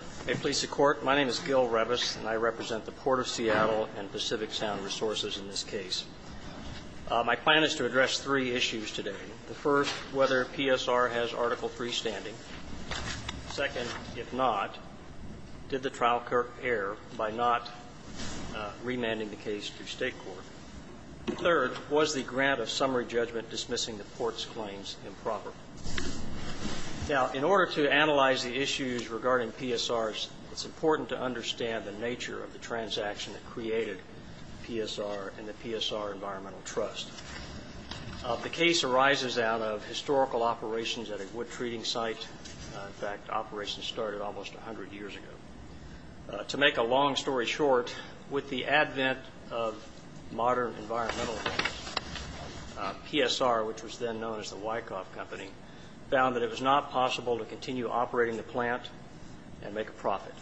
My name is Gil Revis, and I represent the Port of Seattle and Pacific Sound Resources in this case. My plan is to address three issues today. The first, whether PSR has Article III standing. Second, if not, did the trial occur by not remanding the case to state court? Third, was the grant of summary judgment dismissing the Port's claims improper? Now, in order to analyze the issues regarding PSRs, it's important to understand the nature of the transaction that created PSR and the PSR Environmental Trust. The case arises out of historical operations at a wood treating site. In fact, operations started almost 100 years ago. To make a long story short, with the advent of modern environmentalism, PSR, which was then known as the Wyckoff Company, found that it was not possible to continue operating the plant and make a profit.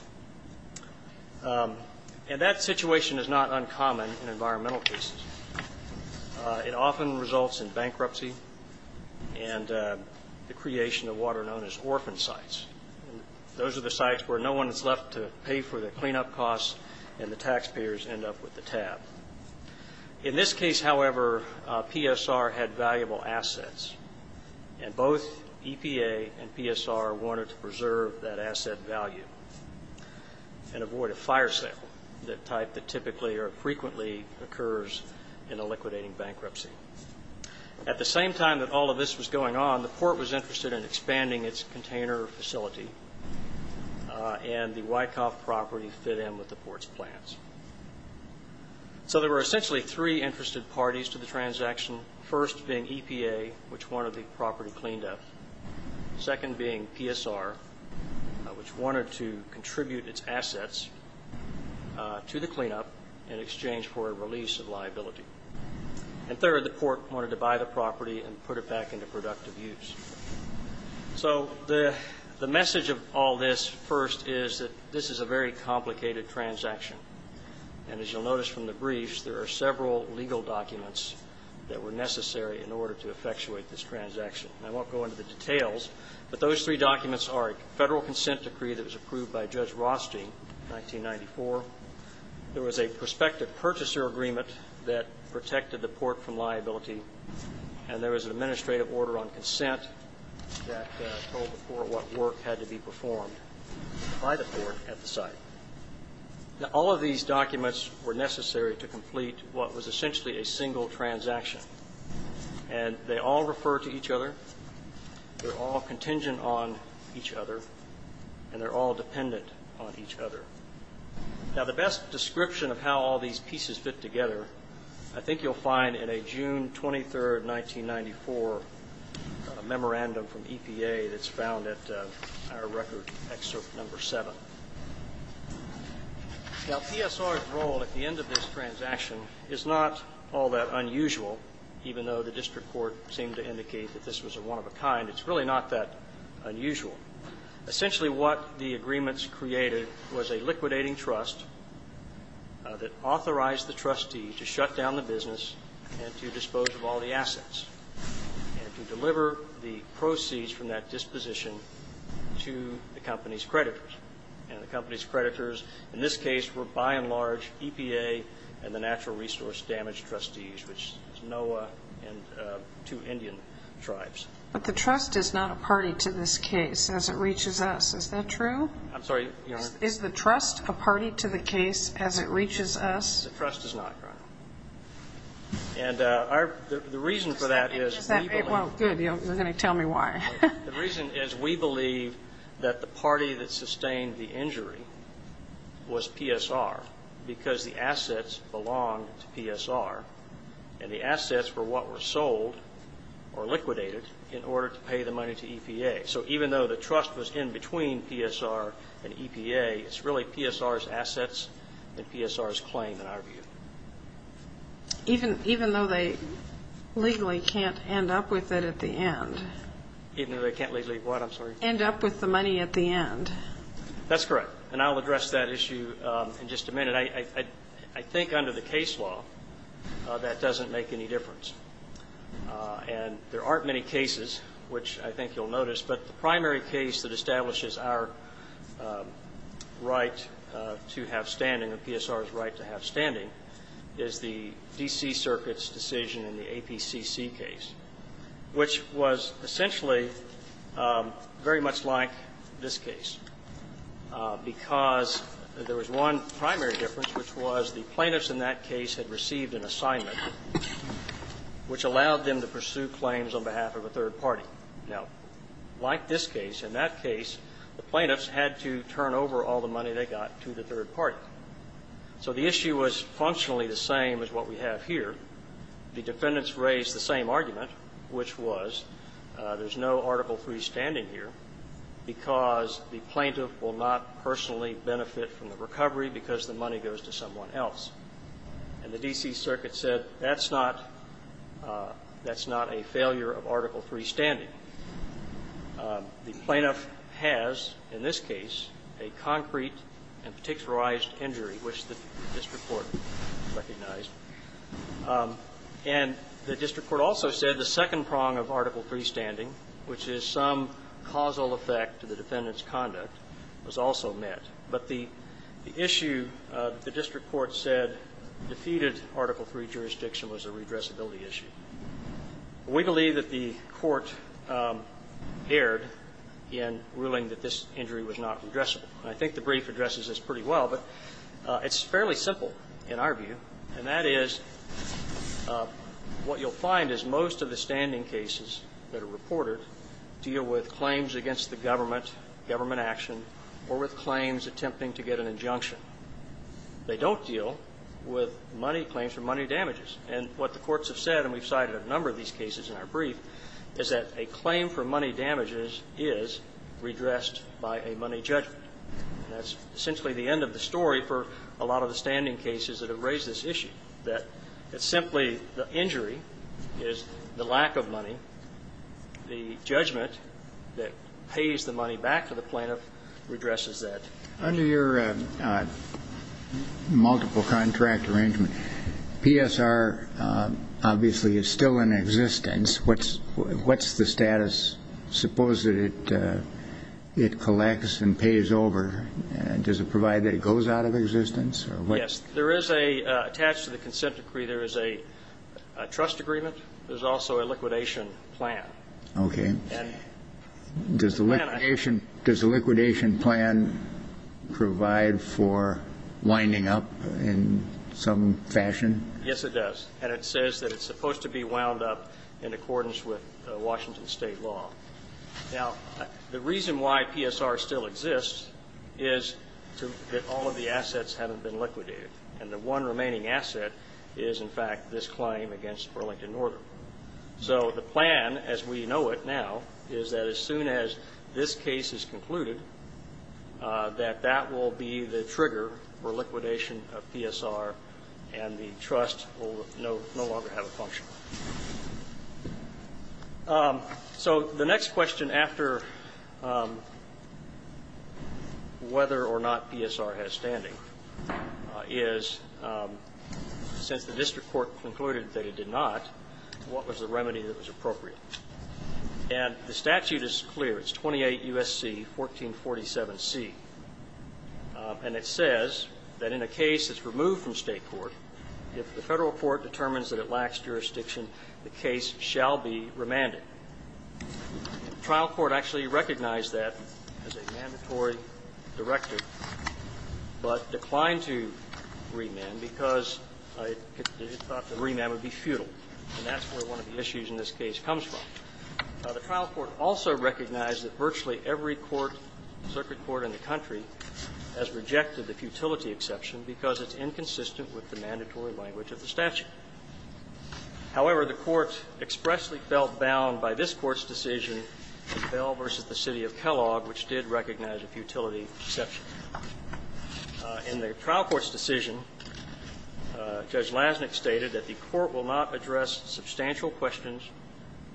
And that situation is not uncommon in environmental cases. It often results in bankruptcy and the creation of water known as orphan sites. Those are the sites where no one is left to pay for the cleanup costs and the taxpayers end up with the tab. In this case, however, PSR had valuable assets, and both EPA and PSR wanted to preserve that asset value and avoid a fire sale, the type that typically or frequently occurs in a liquidating bankruptcy. At the same time that all of this was going on, the Port was interested in expanding its container facility, and the Wyckoff property fit in with the Port's plans. So there were essentially three interested parties to the transaction, first being EPA, which wanted the property cleaned up, second being PSR, which wanted to contribute its assets to the cleanup in exchange for a release of liability. And third, the Port wanted to buy the property and put it back into productive use. So the message of all this, first, is that this is a very complicated transaction. And as you'll notice from the briefs, there are several legal documents that were necessary in order to effectuate this transaction. And I won't go into the details, but those three documents are a Federal consent decree that was approved by Judge Rothstein in 1994. There was a prospective purchaser agreement that protected the Port from liability, and there was an administrative order on consent that told the Port what work had to be performed by the Port at the site. Now, all of these documents were necessary to complete what was essentially a single transaction, and they all refer to each other, they're all contingent on each other, and they're all dependent on each other. Now, the best description of how all these pieces fit together I think you'll find in a June 23, 1994, memorandum from EPA that's found at our record excerpt number seven. Now, PSR's role at the end of this transaction is not all that unusual, even though the district court seemed to indicate that this was a one-of-a-kind. It's really not that unusual. Essentially what the agreements created was a liquidating trust that authorized the trustee to shut down the business and to dispose of all the assets and to deliver the proceeds from that disposition to the company's creditors. And the company's creditors in this case were, by and large, EPA and the Natural Resource Damage Trustees, which is NOAA and two Indian tribes. But the trust is not a party to this case as it reaches us. Is that true? I'm sorry, Your Honor? Is the trust a party to the case as it reaches us? Yes, the trust is not, Your Honor. And the reason for that is we believe the party that sustained the injury was PSR because the assets belonged to PSR. And the assets were what were sold or liquidated in order to pay the money to EPA. So even though the trust was in between PSR and EPA, it's really PSR's assets and PSR's claim in our view. Even though they legally can't end up with it at the end? Even though they can't legally what? I'm sorry? End up with the money at the end. That's correct. And I'll address that issue in just a minute. I think under the case law that doesn't make any difference. And there aren't many cases which I think you'll notice, but the primary case that establishes our right to have standing or PSR's right to have standing is the D.C. Circuit's decision in the APCC case, which was essentially very much like this case because there was one primary difference, which was the plaintiffs in that case had received an assignment which allowed them to pursue claims on behalf of a third party. Now, like this case, in that case, the plaintiffs had to turn over all the money they got to the third party. So the issue was functionally the same as what we have here. The defendants raised the same argument, which was there's no Article III standing here because the plaintiff will not personally benefit from the recovery because the money goes to someone else. And the D.C. Circuit said that's not a failure of Article III standing. The plaintiff has, in this case, a concrete and particularized injury, which the district court recognized. And the district court also said the second prong of Article III standing, which is some causal effect to the defendant's conduct, was also met. But the issue the district court said defeated Article III jurisdiction was a redressability issue. We believe that the court erred in ruling that this injury was not redressable. And I think the brief addresses this pretty well, but it's fairly simple in our view, and that is what you'll find is most of the standing cases that are reported deal with claims against the government, government action, or with claims attempting to get an injunction. They don't deal with money claims or money damages. And what the courts have said, and we've cited a number of these cases in our brief, is that a claim for money damages is redressed by a money judgment. And that's essentially the end of the story for a lot of the standing cases that have raised this issue, that it's simply the injury is the lack of money. The judgment that pays the money back to the plaintiff redresses that. Under your multiple contract arrangement, PSR obviously is still in existence. What's the status? Suppose that it collects and pays over. Does it provide that it goes out of existence? Yes. There is a attached to the consent decree there is a trust agreement. There's also a liquidation plan. Okay. Does the liquidation plan provide for winding up in some fashion? Yes, it does. And it says that it's supposed to be wound up in accordance with Washington State law. Now, the reason why PSR still exists is that all of the assets haven't been liquidated. And the one remaining asset is, in fact, this claim against Burlington Northern. So the plan, as we know it now, is that as soon as this case is concluded, that that will be the trigger for liquidation of PSR and the trust will no longer have a function. So the next question after whether or not PSR has standing is, since the district court concluded that it did not, what was the remedy that was appropriate? And the statute is clear. It's 28 U.S.C. 1447C. And it says that in a case that's removed from State court, if the Federal court determines that it lacks jurisdiction, the case shall be remanded. The trial court actually recognized that as a mandatory directive, but declined to remand because it thought that remand would be futile. And that's where one of the issues in this case comes from. The trial court also recognized that virtually every court, circuit court in the country, has rejected the futility exception because it's inconsistent with the mandatory language of the statute. However, the Court expressly felt bound by this Court's decision to Bell v. The City of Kellogg, which did recognize a futility exception. In the trial court's decision, Judge Lassnick stated that the Court will not address substantial questions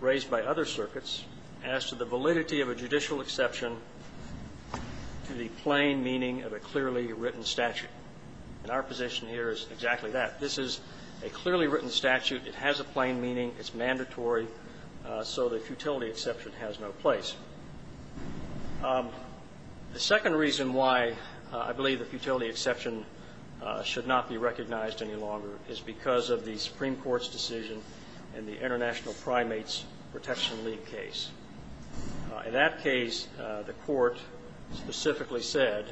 raised by other circuits as to the validity of a judicial exception to the plain meaning of a clearly written statute. And our position here is exactly that. This is a clearly written statute. It has a plain meaning. It's mandatory. So the futility exception has no place. The second reason why I believe the futility exception should not be recognized any longer is because of the Supreme Court's decision in the International Primates Protection League case. In that case, the Court specifically said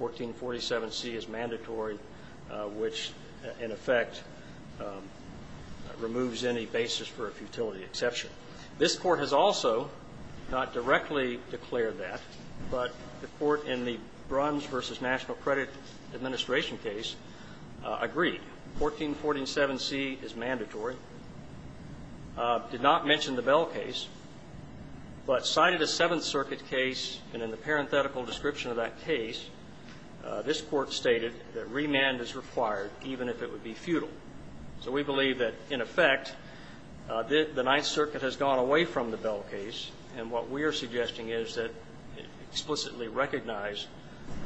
1447C is mandatory, which in effect removes any basis for a futility exception. This Court has also not directly declared that, but the Court in the Bruns v. National Credit Administration case agreed. 1447C is mandatory, did not mention the Bell case, but cited a Seventh Circuit case, and in the parenthetical description of that case, this Court stated that remand is required, even if it would be futile. So we believe that, in effect, the Ninth Circuit has gone away from the Bell case, and what we are suggesting is that it explicitly recognized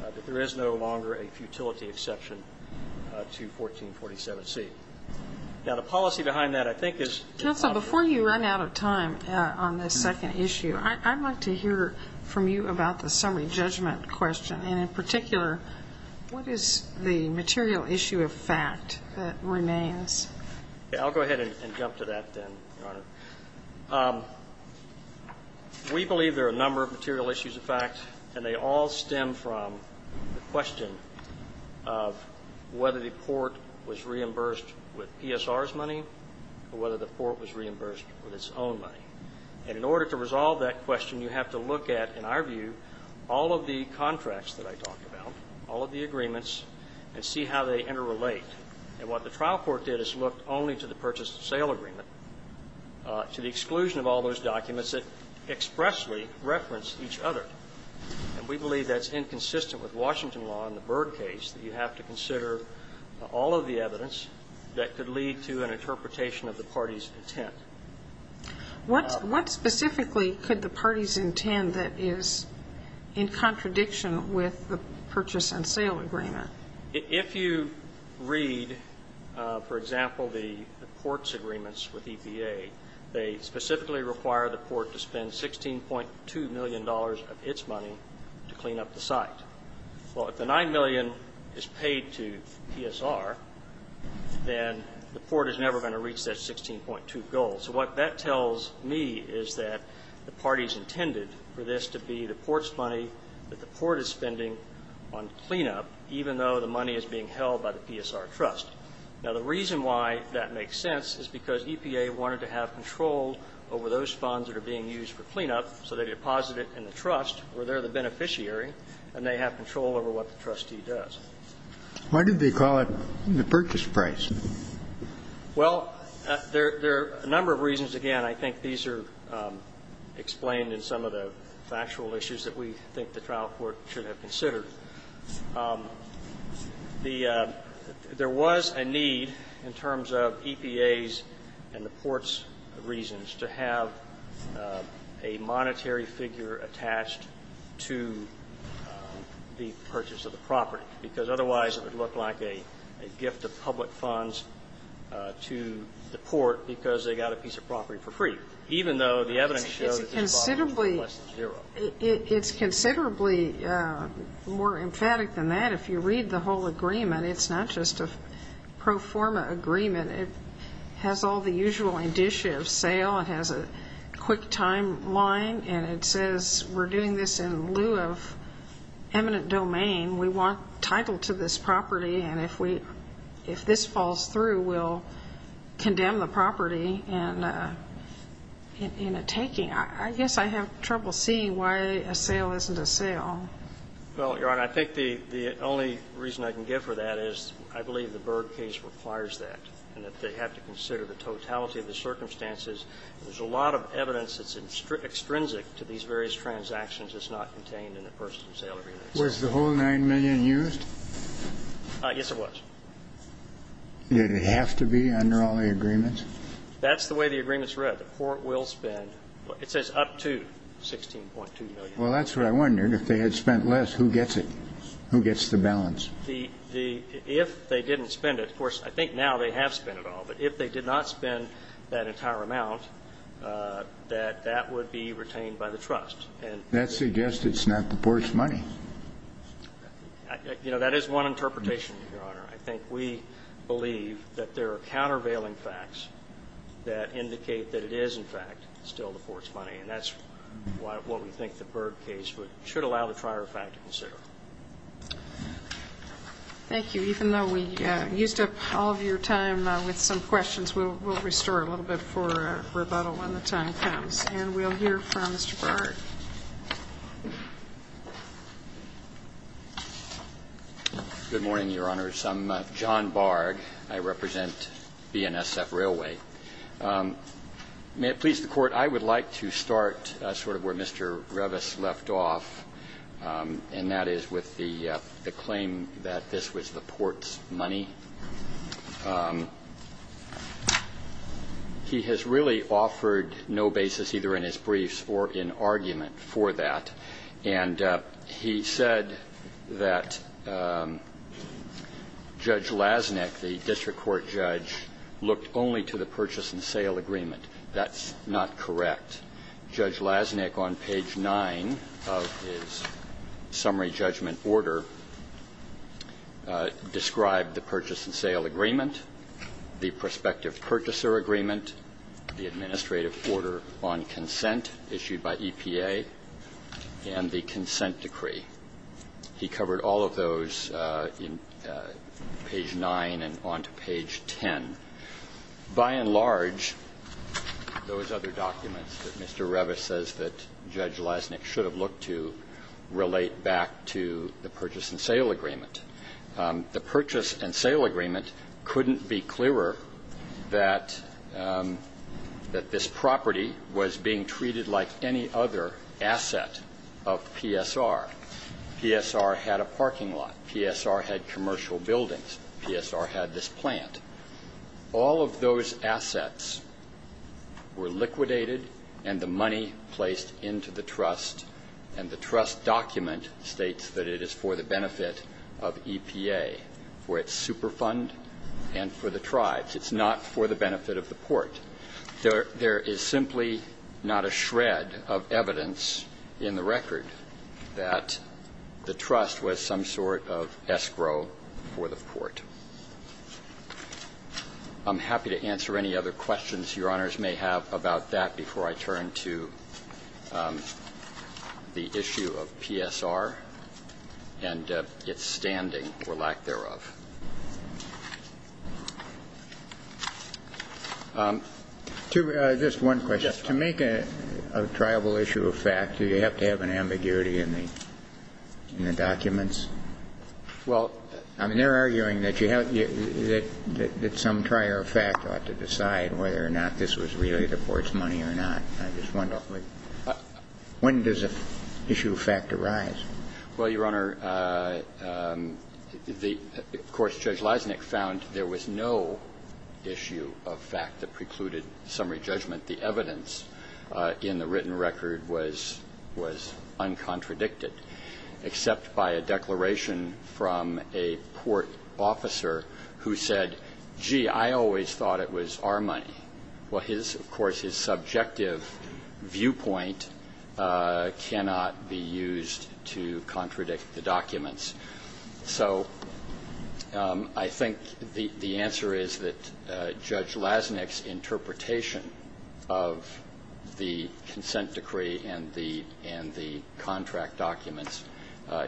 that there is no longer a futility exception to 1447C. Now, the policy behind that, I think, is the following. Counsel, before you run out of time on this second issue, I'd like to hear from you about the summary judgment question. And in particular, what is the material issue of fact that remains? I'll go ahead and jump to that then, Your Honor. We believe there are a number of material issues of fact, and they all stem from the question of whether the Port was reimbursed with PSR's money or whether the Port was reimbursed with its own money. And in order to resolve that question, you have to look at, in our view, all of the contracts that I talked about, all of the agreements, and see how they interrelate. And what the trial court did is look only to the purchase of sale agreement, to the exclusion of all those documents that expressly reference each other. And we believe that's inconsistent with Washington law and the Byrd case, that you have to consider all of the evidence that could lead to an interpretation of the party's intent. What specifically could the parties intend that is in contradiction with the purchase and sale agreement? If you read, for example, the Port's agreements with EPA, they specifically require the Port to spend $16.2 million of its money to clean up the site. Well, if the $9 million is paid to PSR, then the Port is never going to reach that $16.2 goal. So what that tells me is that the parties intended for this to be the Port's money that the Port is spending on cleanup, even though the money is being held by the PSR Trust. Now, the reason why that makes sense is because EPA wanted to have control over those funds that are being used for cleanup, so they deposit it in the Trust, where they're the beneficiary, and they have control over what the trustee does. Why did they call it the purchase price? Well, there are a number of reasons. Again, I think these are explained in some of the factual issues that we think the trial court should have considered. There was a need in terms of EPA's and the Port's reasons to have a monetary figure attached to the purchase of the property, because otherwise it would look like a gift of public funds to the Port because they got a piece of property for free, even though the evidence shows that the deposit was worth less than zero. It's considerably more emphatic than that. If you read the whole agreement, it's not just a pro forma agreement. It has all the usual indicia of sale. It has a quick timeline, and it says we're doing this in lieu of eminent domain. We want title to this property, and if this falls through, we'll condemn the property in a taking. I guess I have trouble seeing why a sale isn't a sale. Well, Your Honor, I think the only reason I can give for that is I believe the Berg case requires that, and that they have to consider the totality of the circumstances. There's a lot of evidence that's extrinsic to these various transactions that's not contained in a personal sale agreement. Was the whole 9 million used? Yes, it was. Did it have to be under all the agreements? That's the way the agreement's read. The Port will spend up to 16.2 million. Well, that's what I wondered. If they had spent less, who gets it? Who gets the balance? If they didn't spend it, of course, I think now they have spent it all. But if they did not spend that entire amount, that that would be retained by the trust. That suggests it's not the Port's money. You know, that is one interpretation, Your Honor. I think we believe that there are countervailing facts that indicate that it is, in fact, still the Port's money, and that's what we think the Berg case should allow the trier of fact to consider. Thank you. Even though we used up all of your time with some questions, we'll restore a little bit for rebuttal when the time comes. And we'll hear from Mr. Berg. Good morning, Your Honors. I'm John Berg. I represent BNSF Railway. May it please the Court, I would like to start sort of where Mr. Revis left off, and that is with the claim that this was the Port's money. He has really offered no basis either in his briefs or in argument for that, and he said that Judge Lasnik, the district court judge, looked only to the purchase and sale agreement. That's not correct. Judge Lasnik, on page 9 of his summary judgment order, described the purchase and sale agreement, the prospective purchaser agreement, the administrative order on consent issued by EPA, and the consent decree. He covered all of those in page 9 and on to page 10. By and large, those other documents that Mr. Revis says that Judge Lasnik should have looked to relate back to the purchase and sale agreement. The purchase and sale agreement couldn't be clearer that this property was being treated like any other asset of PSR. PSR had a parking lot. PSR had commercial buildings. PSR had this plant. All of those assets were liquidated and the money placed into the trust, and the trust document states that it is for the benefit of EPA, for its super fund and for the tribes. It's not for the benefit of the Port. There is simply not a shred of evidence in the record that the trust was some sort of escrow for the Port. I'm happy to answer any other questions Your Honors may have about that before I turn to the issue of PSR and its standing or lack thereof. Just one question. To make a tribal issue a fact, do you have to have an ambiguity in the documents? Well, I mean, they're arguing that you have to, that some prior fact ought to decide whether or not this was really the Port's money or not. I just wonder, when does an issue of fact arise? Well, Your Honor, the, of course, Judge Lasnik found there was no issue of fact that precluded summary judgment. The evidence in the written record was, was uncontradicted, except by a declaration from a Port officer who said, gee, I always thought it was our money. Well, his, of course, his subjective viewpoint cannot be used to contradict the documents. So I think the answer is that Judge Lasnik's interpretation of the consent decree and the, and the contract documents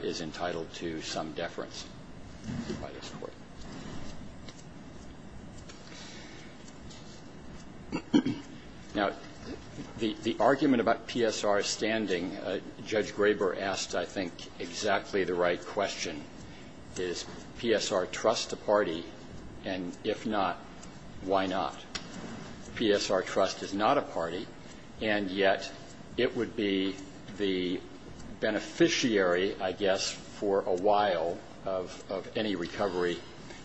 is entitled to some deference by this Court. Now, the, the argument about PSR's standing, Judge Graber asked, I think, exactly the right question. Does PSR trust a party? And if not, why not? PSR trust is not a party, and yet it would be the beneficiary, I guess, for a while of, of any recovery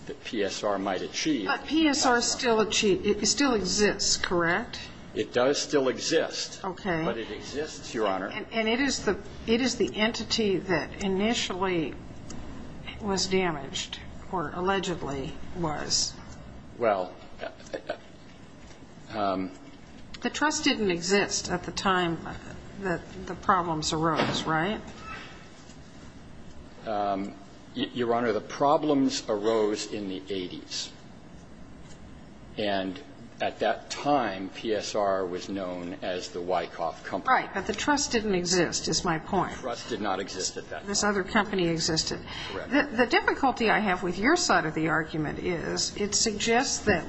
that PSR might achieve. But PSR still achieved, it still exists, correct? It does still exist. Okay. But it exists, Your Honor. And it is the, it is the entity that initially was damaged, or allegedly was. Well, the... The trust didn't exist at the time that the problems arose, right? Your Honor, the problems arose in the 80s. And at that time, PSR was known as the Wyckoff Company. Right. But the trust didn't exist, is my point. The trust did not exist at that time. This other company existed. The difficulty I have with your side of the argument is it suggests that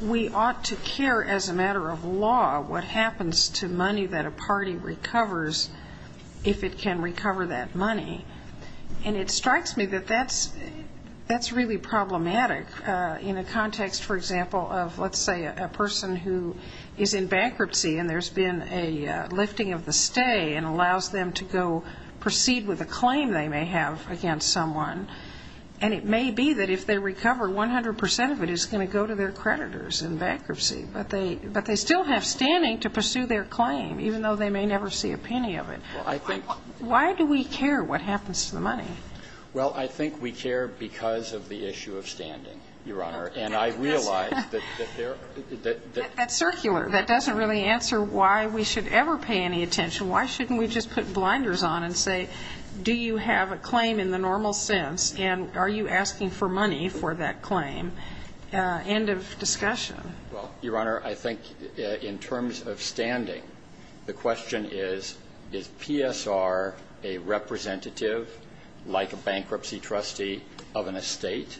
we ought to care as a matter of law what happens to money that a party recovers if it can recover that money. And it strikes me that that's really problematic in a context, for example, of, let's say, a person who is in bankruptcy and there's been a lifting of the stay and allows them to go proceed with a claim they may have against someone. And it may be that if they recover, 100 percent of it is going to go to their creditors in bankruptcy. But they still have standing to pursue their claim, even though they may never see a penny of it. Well, I think... Why do we care what happens to the money? Well, I think we care because of the issue of standing, Your Honor. And I realize that there... That's circular. That doesn't really answer why we should ever pay any attention. Why shouldn't we just put blinders on and say, do you have a claim in the normal sense and are you asking for money for that claim? End of discussion. Well, Your Honor, I think in terms of standing, the question is, is PSR a representative like a bankruptcy trustee of an estate?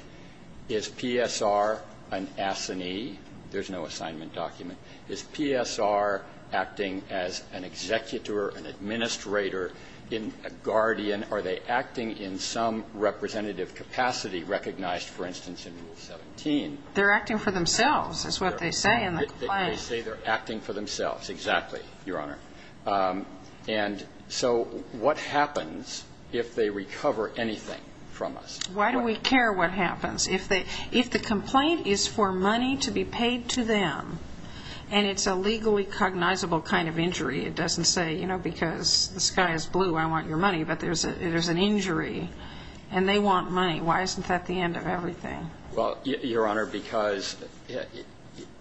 Is PSR an assignee? There's no assignment document. Is PSR acting as an executor, an administrator, a guardian? Are they acting in some representative capacity recognized, for instance, in Rule 17? They're acting for themselves, is what they say in the claim. They say they're acting for themselves. Exactly, Your Honor. And so what happens if they recover anything from us? Why do we care what happens? If the complaint is for money to be paid to them and it's a legally cognizable kind of injury, it doesn't say, you know, because the sky is blue, I want your money. But there's an injury and they want money. Why isn't that the end of everything? Well, Your Honor, because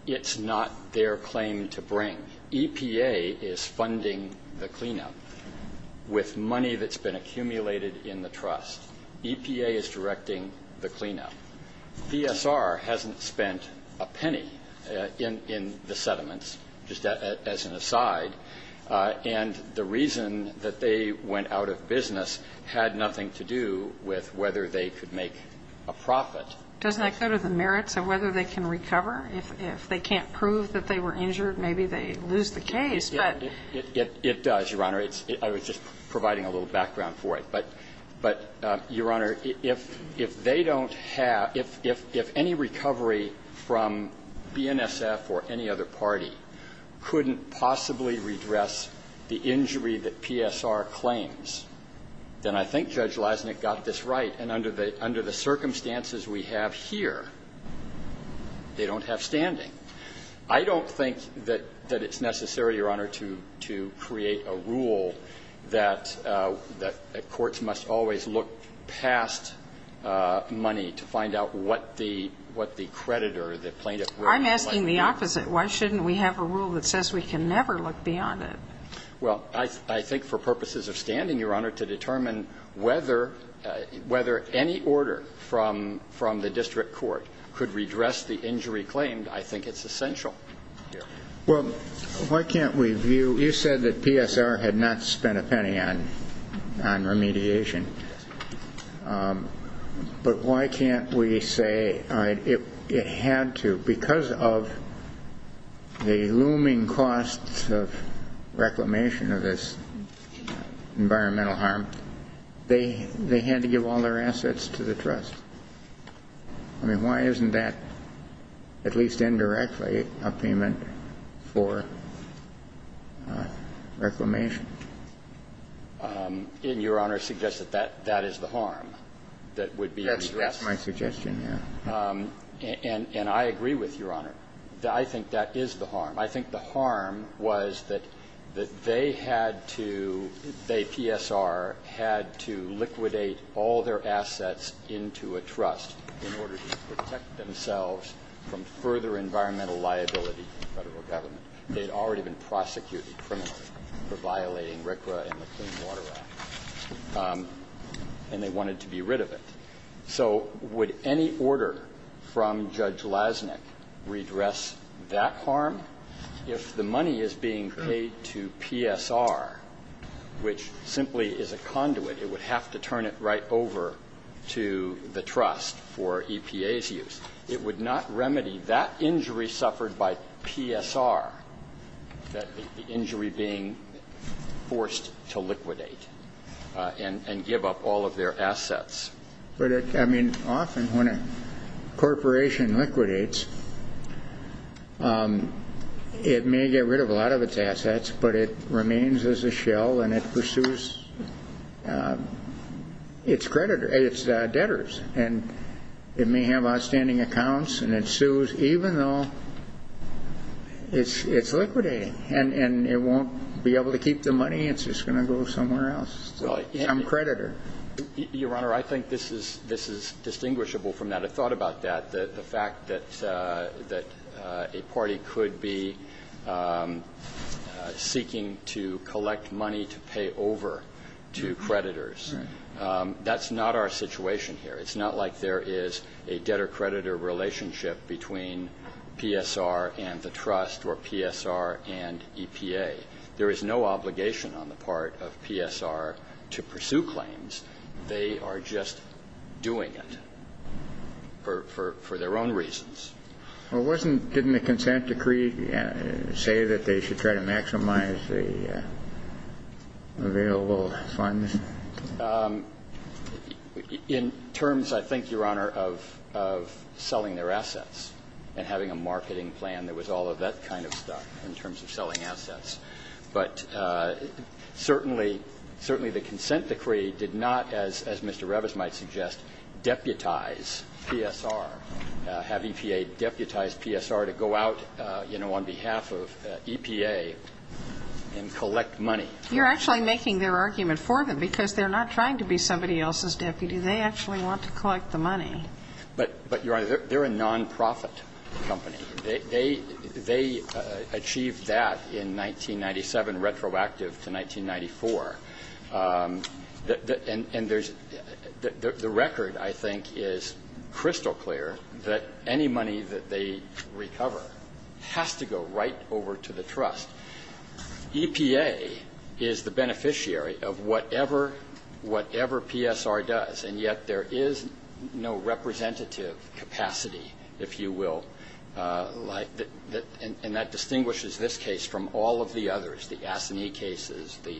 it's not their claim to bring. EPA is funding the cleanup with money that's been accumulated in the trust. EPA is directing the cleanup. PSR hasn't spent a penny in the settlements, just as an aside. And the reason that they went out of business had nothing to do with whether they could make a profit. Doesn't that go to the merits of whether they can recover? If they can't prove that they were injured, maybe they lose the case. It does, Your Honor. I was just providing a little background for it. But, Your Honor, if they don't have – if any recovery from BNSF or any other party couldn't possibly redress the injury that PSR claims, then I think Judge Leisnick got this right. And under the circumstances we have here, they don't have standing. I don't think that it's necessary, Your Honor, to create a rule that courts must always look past money to find out what the creditor, the plaintiff would like to do. I'm asking the opposite. Why shouldn't we have a rule that says we can never look beyond it? Well, I think for purposes of standing, Your Honor, to determine whether any order from the district court could redress the injury claimed, I think it's essential. Well, why can't we view – you said that PSR had not spent a penny on remediation. But why can't we say it had to because of the looming costs of reclamation of this environmental harm? They had to give all their assets to the trust. I mean, why isn't that, at least indirectly, a payment for reclamation? Your Honor suggests that that is the harm that would be redressed. That's my suggestion, yes. And I agree with Your Honor. I think that is the harm. I think the harm was that they had to – they, PSR, had to liquidate all their assets into a trust in order to protect themselves from further environmental liability from the Federal Government. They had already been prosecuted criminally for violating RCRA and the Clean Water Act. And they wanted to be rid of it. So would any order from Judge Lasnik redress that harm? If the money is being paid to PSR, which simply is a conduit, it would have to turn it right over to the trust for EPA's use. It would not remedy that injury suffered by PSR, the injury being forced to liquidate and give up all of their assets. But, I mean, often when a corporation liquidates, it may get rid of a lot of its assets, but it remains as a shell and it pursues its debtors. And it may have outstanding accounts and it sues even though it's liquidating And it won't be able to keep the money? It's just going to go somewhere else? I'm a creditor. Your Honor, I think this is distinguishable from that. I thought about that, the fact that a party could be seeking to collect money to pay over to creditors. That's not our situation here. It's not like there is a debtor-creditor relationship between PSR and the trust or PSR and EPA. There is no obligation on the part of PSR to pursue claims. They are just doing it for their own reasons. Well, wasn't the consent decree say that they should try to maximize the available funds? In terms, I think, Your Honor, of selling their assets and having a marketing plan that was all of that kind of stuff in terms of selling assets. But certainly, certainly the consent decree did not, as Mr. Revis might suggest, deputize PSR, have EPA deputize PSR to go out, you know, on behalf of EPA and collect money. You're actually making their argument for them because they're not trying to be somebody else's deputy. They actually want to collect the money. But, Your Honor, they're a nonprofit company. They achieved that in 1997, retroactive to 1994. And there's the record, I think, is crystal clear that any money that they recover has to go right over to the trust. EPA is the beneficiary of whatever, whatever PSR does. And yet there is no representative capacity, if you will. And that distinguishes this case from all of the others, the ASINI cases, the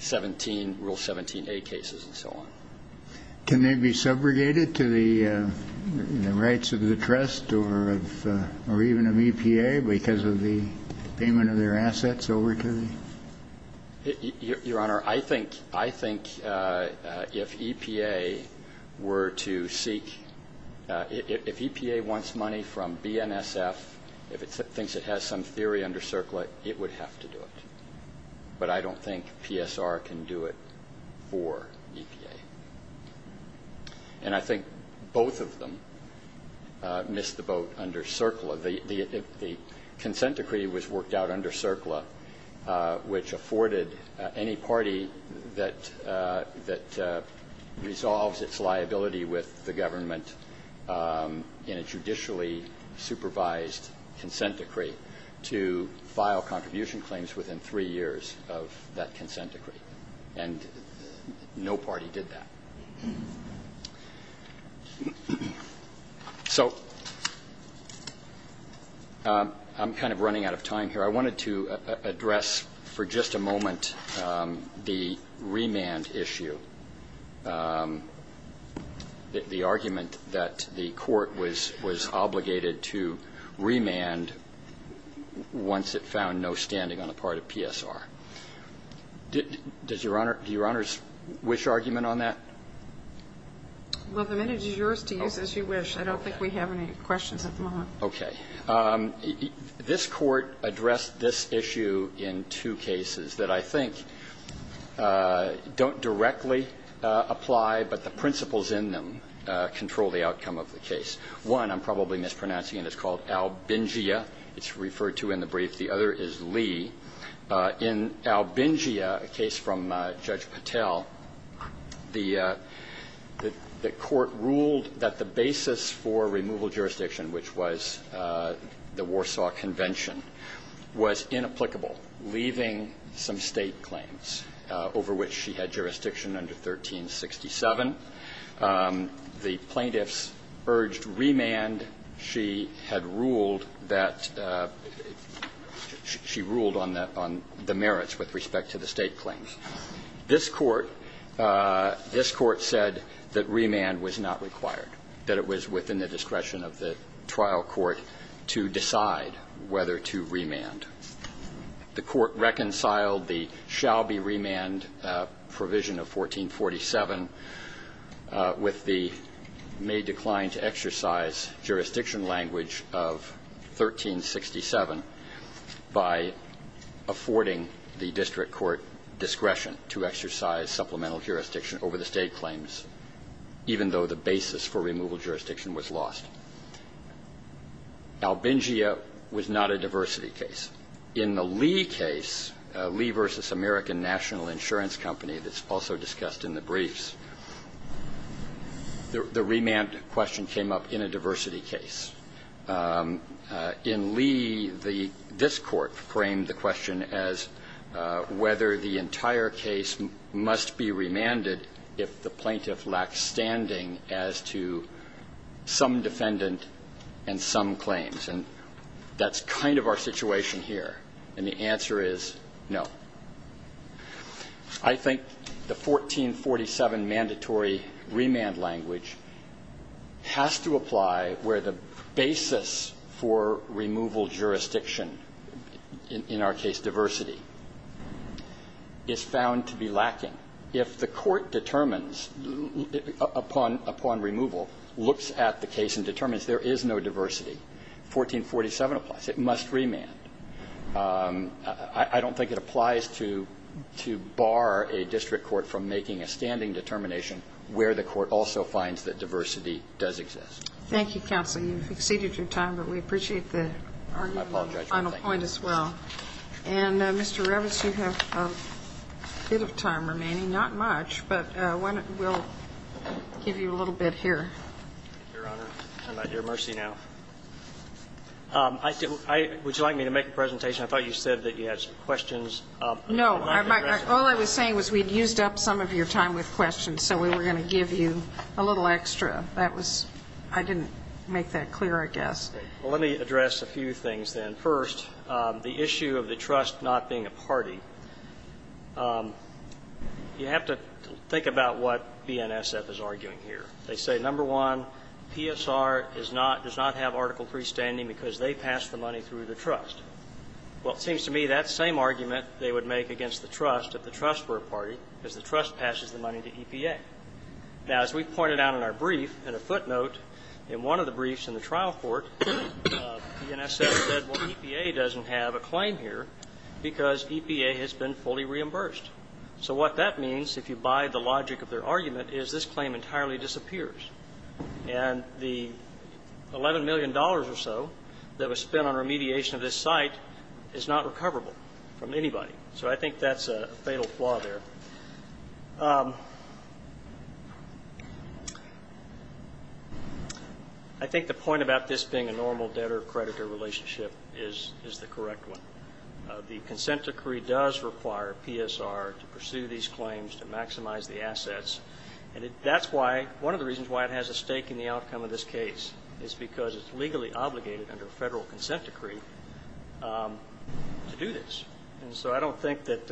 17, Rule 17a cases and so on. Can they be subrogated to the rights of the trust or even of EPA because of the payment of their assets over to the? Your Honor, I think, I think if EPA were to seek, if EPA wants money from BNSF, if it thinks it has some theory under CERCLA, it would have to do it. But I don't think PSR can do it for EPA. And I think both of them missed the boat under CERCLA. The consent decree was worked out under CERCLA, which afforded any party that resolves its liability with the government in a judicially supervised consent decree to file contribution claims within three years of that consent decree. And no party did that. So I'm kind of running out of time here. I wanted to address for just a moment the remand issue, the argument that the court was obligated to remand once it found no standing on the part of PSR. Does Your Honor's wish argument on that? Well, the minute is yours to use as you wish. I don't think we have any questions at the moment. Okay. This Court addressed this issue in two cases that I think don't directly apply, but the principles in them control the outcome of the case. One I'm probably mispronouncing, and it's called Albingia. It's referred to in the brief. The other is Lee. In Albingia, a case from Judge Patel, the court ruled that the basis for removal jurisdiction, which was the Warsaw Convention, was inapplicable, leaving some State claims over which she had jurisdiction under 1367. The plaintiffs urged remand. She had ruled that she ruled on the merits with respect to the State claims. This Court said that remand was not required, that it was within the discretion of the trial court to decide whether to remand. The court reconciled the shall be remand provision of 1447 with the may decline to jurisdiction language of 1367 by affording the district court discretion to exercise supplemental jurisdiction over the State claims, even though the basis for removal jurisdiction was lost. Albingia was not a diversity case. In the Lee case, Lee v. American National Insurance Company, that's also discussed in the briefs, the remand question came up in a diversity case. In Lee, this Court framed the question as whether the entire case must be remanded if the plaintiff lacks standing as to some defendant and some claims. And that's kind of our situation here. And the answer is no. I think the 1447 mandatory remand language has to apply where the basis for removal jurisdiction, in our case diversity, is found to be lacking. If the court determines upon removal, looks at the case and determines there is no diversity, 1447 applies. It must remand. I don't think it applies to bar a district court from making a standing determination where the court also finds that diversity does exist. Thank you, counsel. You've exceeded your time, but we appreciate the argument on the final point as well. I apologize. And, Mr. Revis, you have a bit of time remaining, not much, but we'll give you a little bit here. Your Honor, I'm at your mercy now. Would you like me to make a presentation? I thought you said that you had some questions. No. All I was saying was we had used up some of your time with questions, so we were going to give you a little extra. I didn't make that clear, I guess. Well, let me address a few things then. First, the issue of the trust not being a party. You have to think about what BNSF is arguing here. They say, number one, PSR does not have Article III standing because they passed the money through the trust. Well, it seems to me that's the same argument they would make against the trust if the trust were a party, because the trust passes the money to EPA. Now, as we pointed out in our brief, and a footnote in one of the briefs in the trial court, BNSF said, well, EPA doesn't have a claim here because EPA has been fully reimbursed. So what that means, if you buy the logic of their argument, is this claim entirely disappears. And the $11 million or so that was spent on remediation of this site is not recoverable from anybody. So I think that's a fatal flaw there. I think the point about this being a normal debtor-creditor relationship is the correct one. The consent decree does require PSR to pursue these claims, to maximize the assets. And that's why, one of the reasons why it has a stake in the outcome of this case is because it's legally obligated under a federal consent decree to do this. And so I don't think that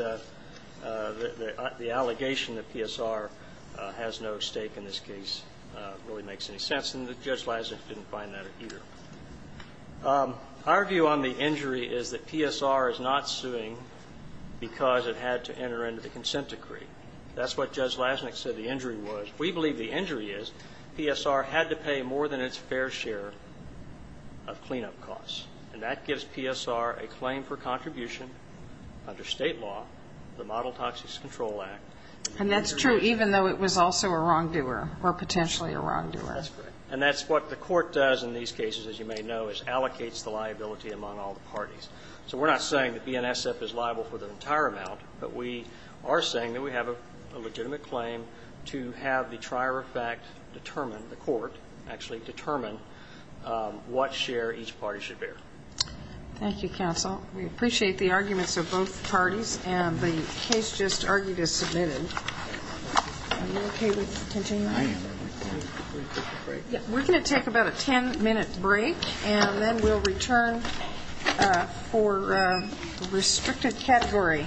the allegation that PSR has no stake in this case really makes any sense. And Judge Leiser didn't find that either. Our view on the injury is that PSR is not suing because it had to enter into the consent decree. That's what Judge Leisnick said the injury was. We believe the injury is PSR had to pay more than its fair share of cleanup costs. And that gives PSR a claim for contribution under State law, the Model Toxics Control Act. And that's true even though it was also a wrongdoer or potentially a wrongdoer. That's correct. What it does in these cases, as you may know, is allocates the liability among all the parties. So we're not saying that BNSF is liable for the entire amount, but we are saying that we have a legitimate claim to have the trier of fact determine, the court actually, determine what share each party should bear. Thank you, counsel. We appreciate the arguments of both parties. And the case just argued is submitted. Are you okay with attention now? I am. We're going to take about a ten-minute break, and then we'll return for restricted category.